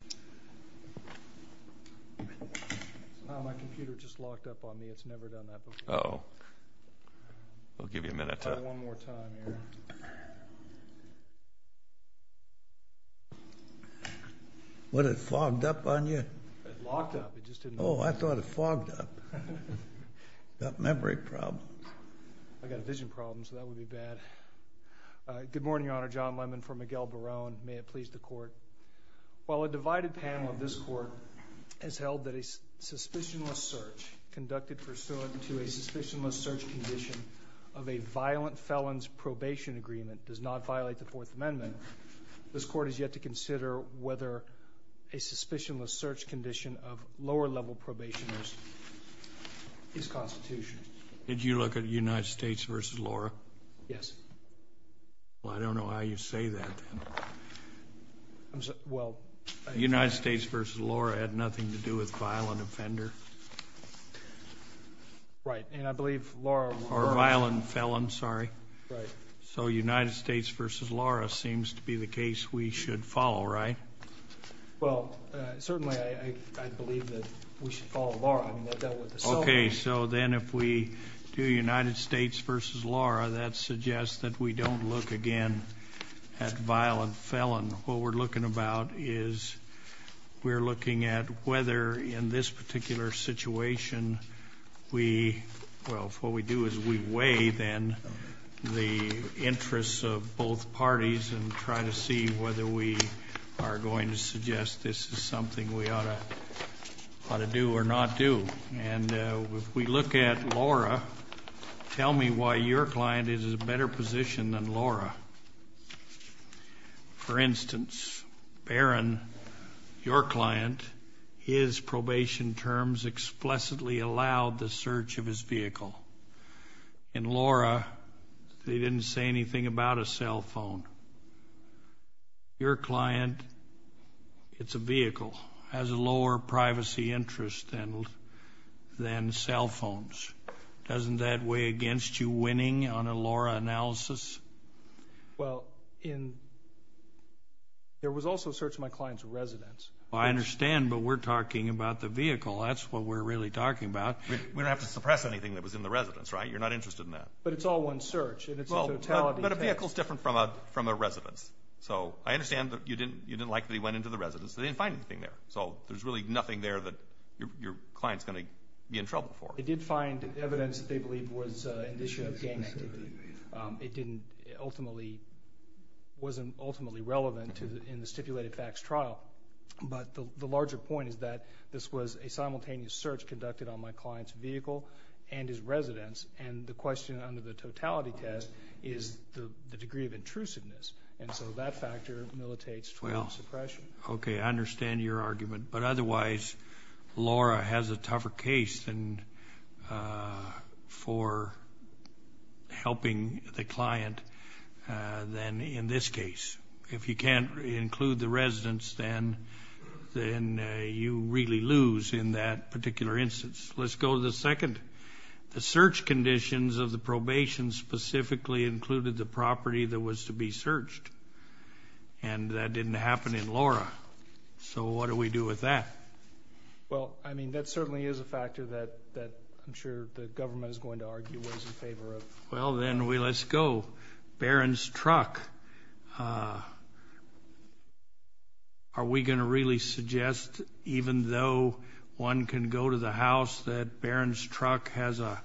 Good morning, Your Honor. John Lemon from Miguel Baron. May it please the Court, while a divided panel of this Court has held that a suspicionless search conducted pursuant to a suspicionless search condition of a violent felon's probation agreement does not violate the Fourth Amendment, this Court has yet to consider whether a suspicionless search condition of lower-level probationers is constitutional. Did you look at United States v. Laura? Yes. Well, I don't know how you say that. United States v. Laura had nothing to do with violent offender. Right, and I believe Laura... Or violent felon, sorry. So United States v. Laura seems to be the case we should follow, right? Well, certainly I believe that we should follow Laura. Okay, so then if we do United States v. Laura, that suggests that we don't look again at violent felon. What we're looking about is we're looking at whether in this particular situation we, well, what we do is we weigh then the interests of both parties and try to see whether we are going to If we look at Laura, tell me why your client is in a better position than Laura. For instance, Barron, your client, his probation terms explicitly allowed the search of his vehicle. In Laura, they didn't say anything about a cell phone. Your client, it's a vehicle, has a lower privacy interest than cell phones. Doesn't that weigh against you winning on a Laura analysis? Well, in... There was also a search of my client's residence. I understand, but we're talking about the vehicle. That's what we're really talking about. We don't have to suppress anything that was in the residence, right? You're not interested in that. But it's all one search, and it's a totality test. But a vehicle's different from a residence. So I understand that you didn't like that he went into the residence. They didn't find anything there. There's really nothing there that your client's going to be in trouble for. They did find evidence that they believe was an issue of gang activity. It wasn't ultimately relevant in the stipulated facts trial. But the larger point is that this was a simultaneous search conducted on my client's vehicle and his residence. And the question under the totality test is the degree of intrusiveness. And so that factor militates total suppression. Okay, I understand your argument. But otherwise, Laura has a tougher case for helping the client than in this case. If you can't include the residence, then you really lose in that particular instance. Let's go to the second. The search didn't happen in Laura. So what do we do with that? Well, I mean, that certainly is a factor that I'm sure the government is going to argue was in favor of. Well, then we let's go. Barron's truck. Are we going to really suggest, even though one can go to the house, that Barron's is that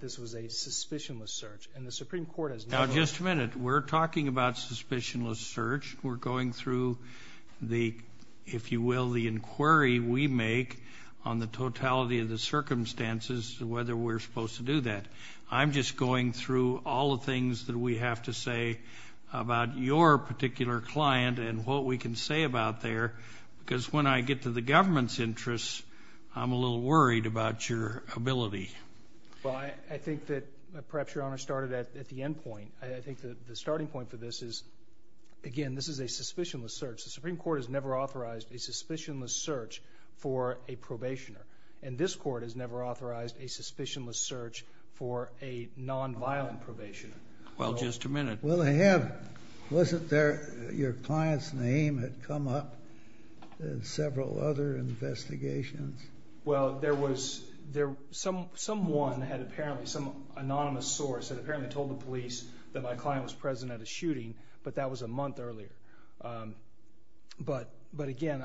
this was a suspicionless search and the Supreme Court is now just a minute. We're talking about suspicionless search. We're going through the, if you will, the inquiry we make on the totality of the circumstances, whether we're supposed to do that. I'm just going through all the things that we have to say about your particular client and what we can say about there. Because when I get to the government's interests, I'm a little bit. Well, I think that perhaps your honor started at the end point. I think the starting point for this is, again, this is a suspicionless search. The Supreme Court has never authorized a suspicionless search for a probationer. And this court has never authorized a suspicionless search for a nonviolent probation. Well, just a minute. Well, I have. Wasn't there your client's name had come up in several other investigations? Well, there was. Someone had apparently, some anonymous source had apparently told the police that my client was present at a shooting, but that was a month earlier. But again,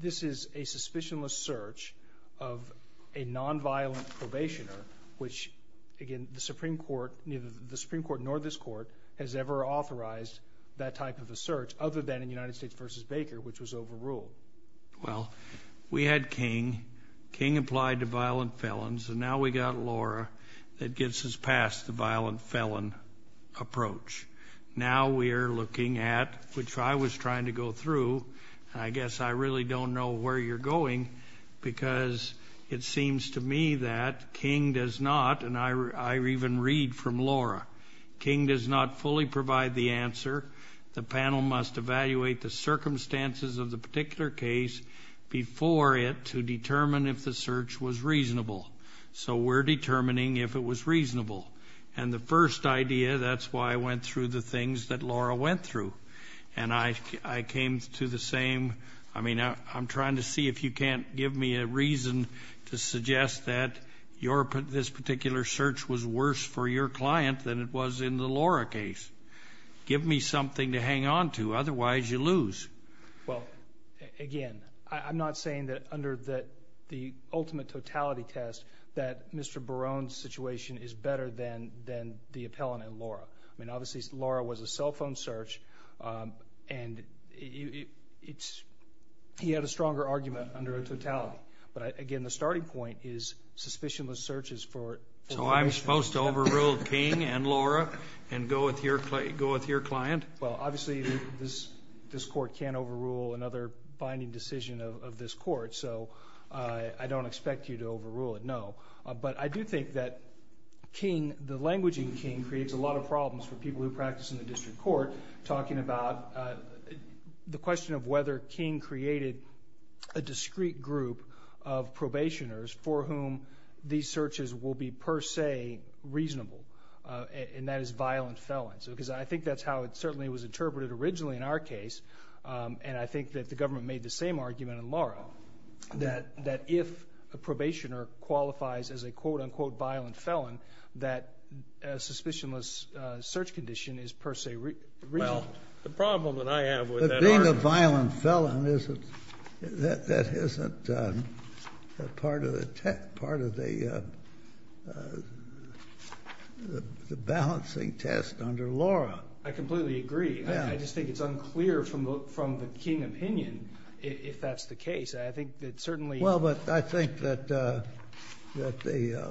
this is a suspicionless search of a nonviolent probationer, which, again, the Supreme Court, neither the Supreme Court nor this court has ever authorized that type of a search, other than in United States v. Baker, which was overruled. Well, we had King. King applied to violent felons, and now we got Laura that gets us past the violent felon approach. Now we are looking at, which I was trying to go through, and I guess I really don't know where you're going because it seems to me that King does not, and I even read from Laura, King does not fully provide the answer. The panel must evaluate the circumstances of the particular case before it to determine if the search was reasonable. So we're determining if it was reasonable. And the first idea, that's why I went through the things that Laura went through. And I came to the same, I mean, I'm trying to see if you can't give me a reason to suggest that this particular search was worse for your client than it was in the Laura case. Give me something to hang on to, otherwise you lose. Well, again, I'm not saying that under the ultimate totality test that Mr. Barone's situation is better than the appellant and Laura. I mean, obviously Laura was a cell phone search and he had a stronger argument under a totality. But again, the starting point is suspicionless searches for... So I'm supposed to overrule King and Laura and go with your client? Well, obviously this court can't overrule another binding decision of this court, so I don't expect you to overrule it, no. But I do think that the language in King creates a lot of problems for people who practice in the district court talking about the question of whether King created a discrete group of probationers for whom these searches will be per se reasonable. And that is violent felons. Because I think that's how it certainly was interpreted originally in our case. And I think that the government made the same argument in Laura. That if a probationer qualifies as a quote unquote violent felon, that a suspicionless search condition is per se reasonable. Well, the problem that I have with that argument... But being a violent felon isn't, that isn't part of the balancing test under Laura. I completely agree. I just think it's unclear from the King opinion if that's the case. I think that certainly... Well, but I think that the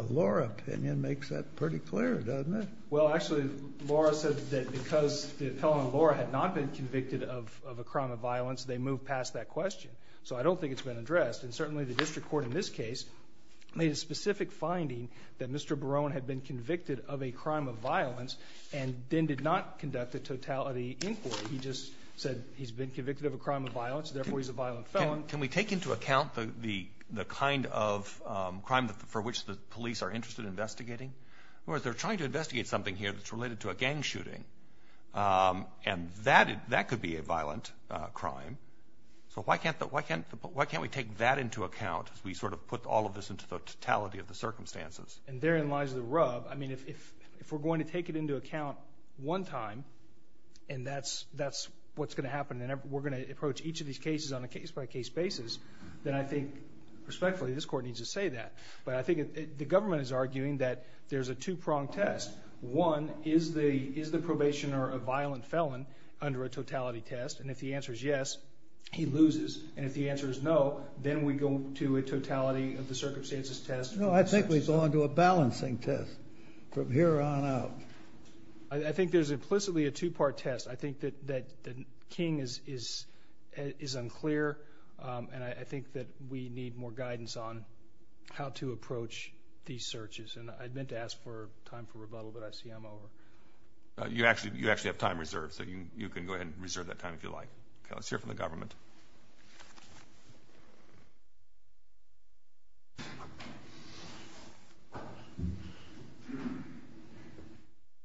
Laura opinion makes that pretty clear, doesn't it? Well, actually, Laura said that because the appellant Laura had not been convicted of a crime of violence, they moved past that question. So I don't think it's been addressed. And certainly the district court in this case made a specific finding that Mr. Barone had been convicted of a crime of violence and then did not conduct a totality inquiry. He just said he's been convicted of a crime of violence, therefore he's a violent felon. Can we take into account the kind of crime for which the police are interested in investigating? Whereas they're trying to investigate something here that's related to a gang shooting. And that could be a violent crime. So why can't we take that into account as we sort of put all of this into the totality of the circumstances? And therein lies the rub. I mean, if we're going to take it into account one time, and that's what's going to happen, and we're going to approach each of these cases on a case-by-case basis, then I think, respectfully, this court needs to say that. But I think the government is arguing that there's a two-pronged test. One, is the probationer a violent felon under a totality test? And if the answer is yes, he loses. And if the answer is no, then we go to a totality of the circumstances test. No, I think we go on to a balancing test from here on out. I think there's implicitly a two-part test. I think that King is unclear, and I think that we need more guidance on how to approach these searches. And I meant to ask for time for rebuttal, but I see I'm over. You actually have time reserved, so you can go ahead and reserve that time if you like. Okay, let's hear from the government.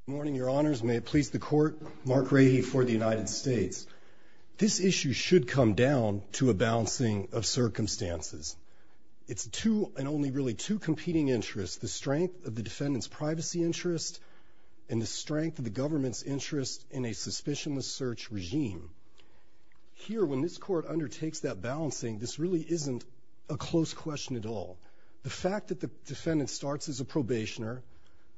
Good morning, Your Honors. May it please the Court, Mark Rahe for the United States. This issue should come down to a balancing of circumstances. It's two, and only really two, competing interests, the strength of the defendant's privacy interest and the strength of the government's interest in a suspicionless search regime. Here, when this Court undertakes that balancing, this really isn't a close question at all. The fact that the defendant starts as a probationer,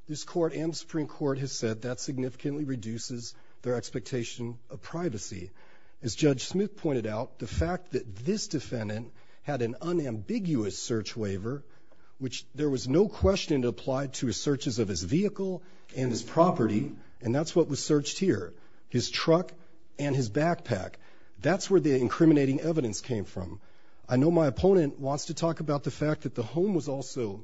this Court and the Supreme Court has said that significantly reduces their expectation of privacy. As Judge Smith pointed out, the fact that this defendant had an unambiguous search waiver, which there was no question it applied to his searches of his vehicle and his property, and that's what was searched here, his truck and his backpack. That's where the incriminating evidence came from. I know my opponent wants to talk about the fact that the home was also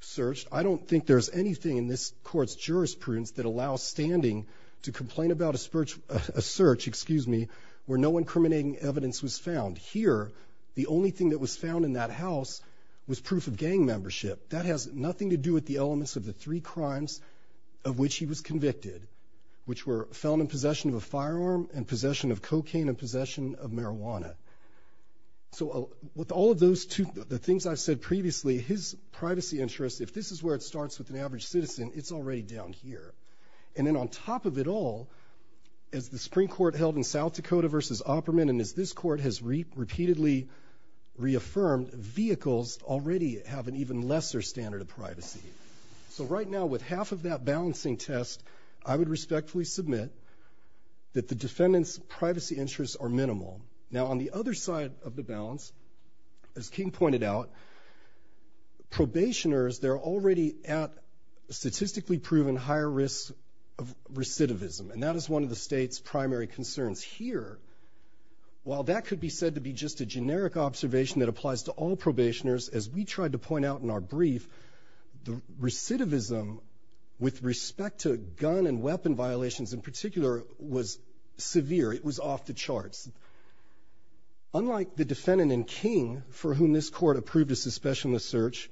searched. I don't think there's anything in this Court's jurisprudence that allows standing to complain about a search where no incriminating evidence was found. Here, the only thing that was found in that house was proof of gang membership. That has to do with the two cases of which he was convicted, which were found in possession of a firearm and possession of cocaine and possession of marijuana. With all of those two, the things I said previously, his privacy interest, if this is where it starts with an average citizen, it's already down here. Then on top of it all, as the Supreme Court held in South Dakota versus Opperman, and as this Court has repeatedly reaffirmed, vehicles already have an even balancing test, I would respectfully submit that the defendant's privacy interests are minimal. Now, on the other side of the balance, as King pointed out, probationers, they're already at statistically proven higher risk of recidivism, and that is one of the state's primary concerns. Here, while that could be said to be just a generic observation that applies to all probationers, as we tried to point out in our brief, the recidivism with respect to gun and weapon violations in particular was severe. It was off the charts. Unlike the defendant in King, for whom this Court approved a suspicionless search,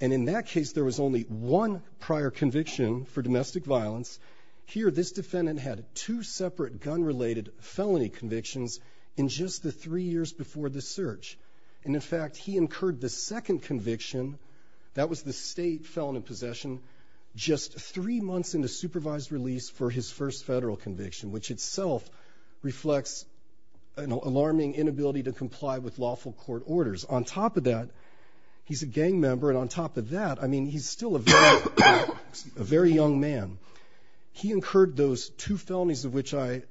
and in that case there was only one prior conviction for domestic violence, here this defendant had two separate gun-related felony convictions in just the three years before the search. And in fact, he incurred the second conviction, that was the state felon in possession, just three months into supervised release for his first federal conviction, which itself reflects an alarming inability to comply with lawful court orders. On top of that, he's a gang member, and on top of that, I mean, he's still a very young man. He incurred those two felonies of which I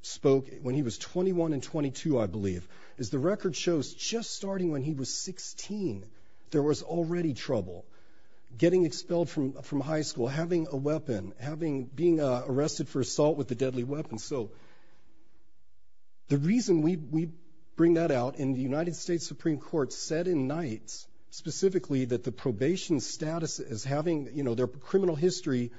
spoke when he was 21 and 22, I believe. As the record shows, just starting when he was 16, there was already trouble. Getting expelled from high school having a weapon, being arrested for assault with a deadly weapon. So the reason we bring that out, and the United States Supreme Court said in nights specifically that the probation status as having, you know, their criminal history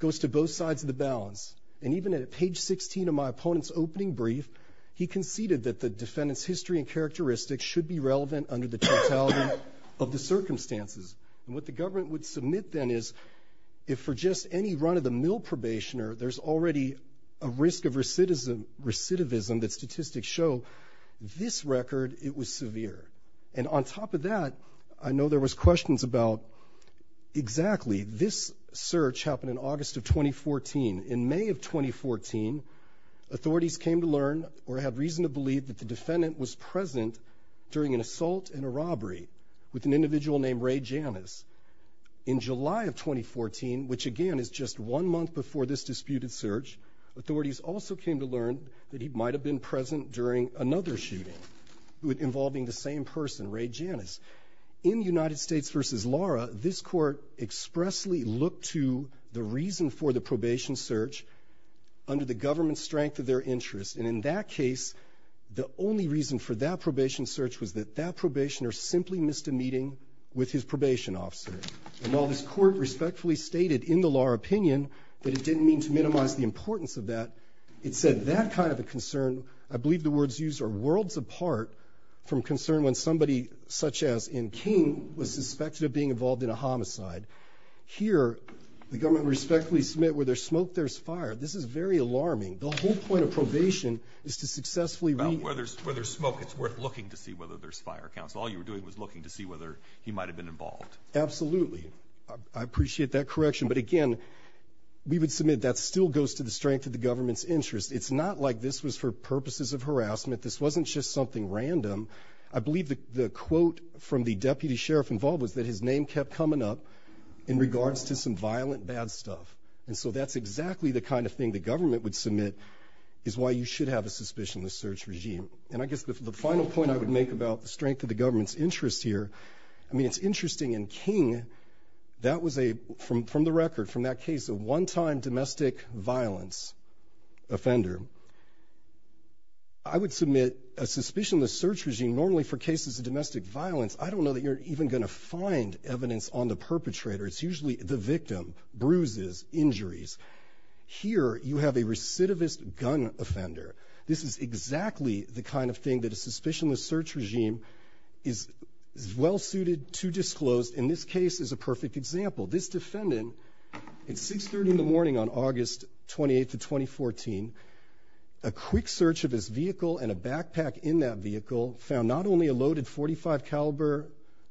goes to both sides of the balance. And even at page 16 of my opponent's opening brief, he conceded that the defendant's history and characteristics should be relevant under the totality of the circumstances. And what the government would submit then is, if for just any run-of-the-mill probationer, there's already a risk of recidivism that statistics show, this record, it was severe. And on top of that, I know there was questions about, exactly, this search happened in August of 2014. In May of 2014, authorities came to learn or had reason to believe that the defendant was present during an assault and a robbery with an individual named Ray Janus. In July of 2014, which again is just one month before this disputed search, authorities also came to learn that he might have been present during another shooting involving the same person, Ray Janus. In United States v. Lara, this court expressly looked to the reason for the probation search under the government's strength of their interest. And in that case, the only reason for that probation search was that that probationer simply missed a meeting with his probation officer. And while this court respectfully stated in the Lara opinion that it didn't mean to minimize the importance of that, it said that kind of a concern, I believe the words used are worlds apart from concern when somebody such as N. King was suspected of being involved in a homicide. Here, the government respectfully submit, where there's smoke, there's fire. This is very alarming. The whole point of probation is to successfully read. About where there's smoke, it's worth looking to see whether there's fire. So all you were doing was looking to see whether he might have been involved. Absolutely. I appreciate that correction. But again, we would submit that still goes to the strength of the government's interest. It's not like this was for purposes of harassment. This wasn't just something random. I believe the quote from the deputy sheriff involved was that his name kept coming up in regards to some violent bad stuff. And so that's exactly the kind of thing the government would submit is why you should have a suspicionless search regime. And I guess the final point I would make about the strength of the government's interest here, I mean, it's interesting. And King, that was a, from the record, from that case, a one-time domestic violence offender. I would submit a suspicionless search regime, normally for cases of domestic violence, I don't know that you're even going to find evidence on the perpetrator. It's usually the victim, bruises, injuries. Here you have a recidivist gun offender. This is exactly the kind of thing that a suspicionless search regime is well suited to disclose. In this case is a perfect example. This defendant at 630 in the morning on August 28th of 2014, a quick search of his vehicle and a backpack in that vehicle found not only a loaded .45 caliber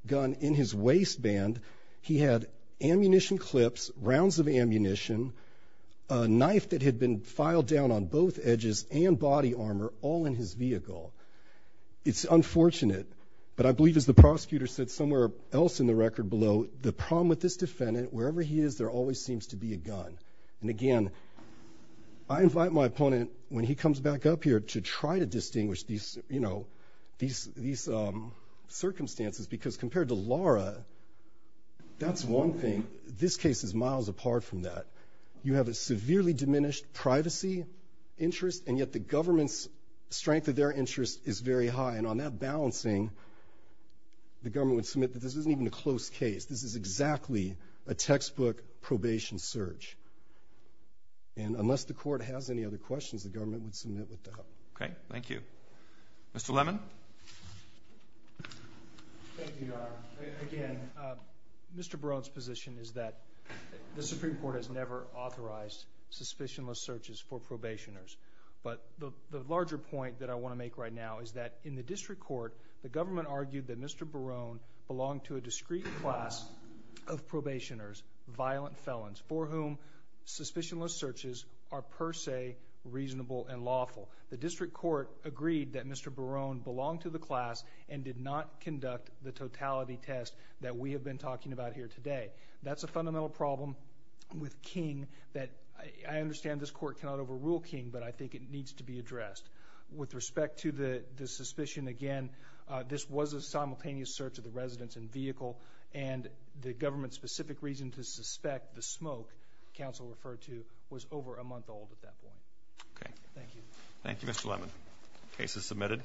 gun in his waistband, he had ammunition clips, rounds of ammunition, a knife that had been filed down on both edges and body armor all in his vehicle. It's unfortunate, but I believe as the prosecutor said somewhere else in the record below, the problem with this defendant, wherever he is, there always seems to be a gun. And again, I invite my opponent when he comes back up here to try to distinguish these circumstances because compared to Laura, that's one thing. This case is miles apart from that. You have a severely diminished privacy interest and yet the government's strength of their interest is very high. And on that balancing, the government would submit that this isn't even a close case. This is exactly a textbook probation search. And unless the court has any other Mr. Lemon. Thank you, Your Honor. Again, Mr. Barone's position is that the Supreme Court has never authorized suspicionless searches for probationers. But the larger point that I want to make right now is that in the district court, the government argued that Mr. Barone belonged to a discrete class of probationers, violent felons, for whom suspicionless searches are per se reasonable and Mr. Barone belonged to the class and did not conduct the totality test that we have been talking about here today. That's a fundamental problem with King that I understand this court cannot overrule King, but I think it needs to be addressed with respect to the suspicion. Again, this was a simultaneous search of the residence and vehicle and the government specific reason to suspect the smoke council referred to was over a month old at that point. Okay, thank you. Thank you, Mr. Lemon. Case is submitted.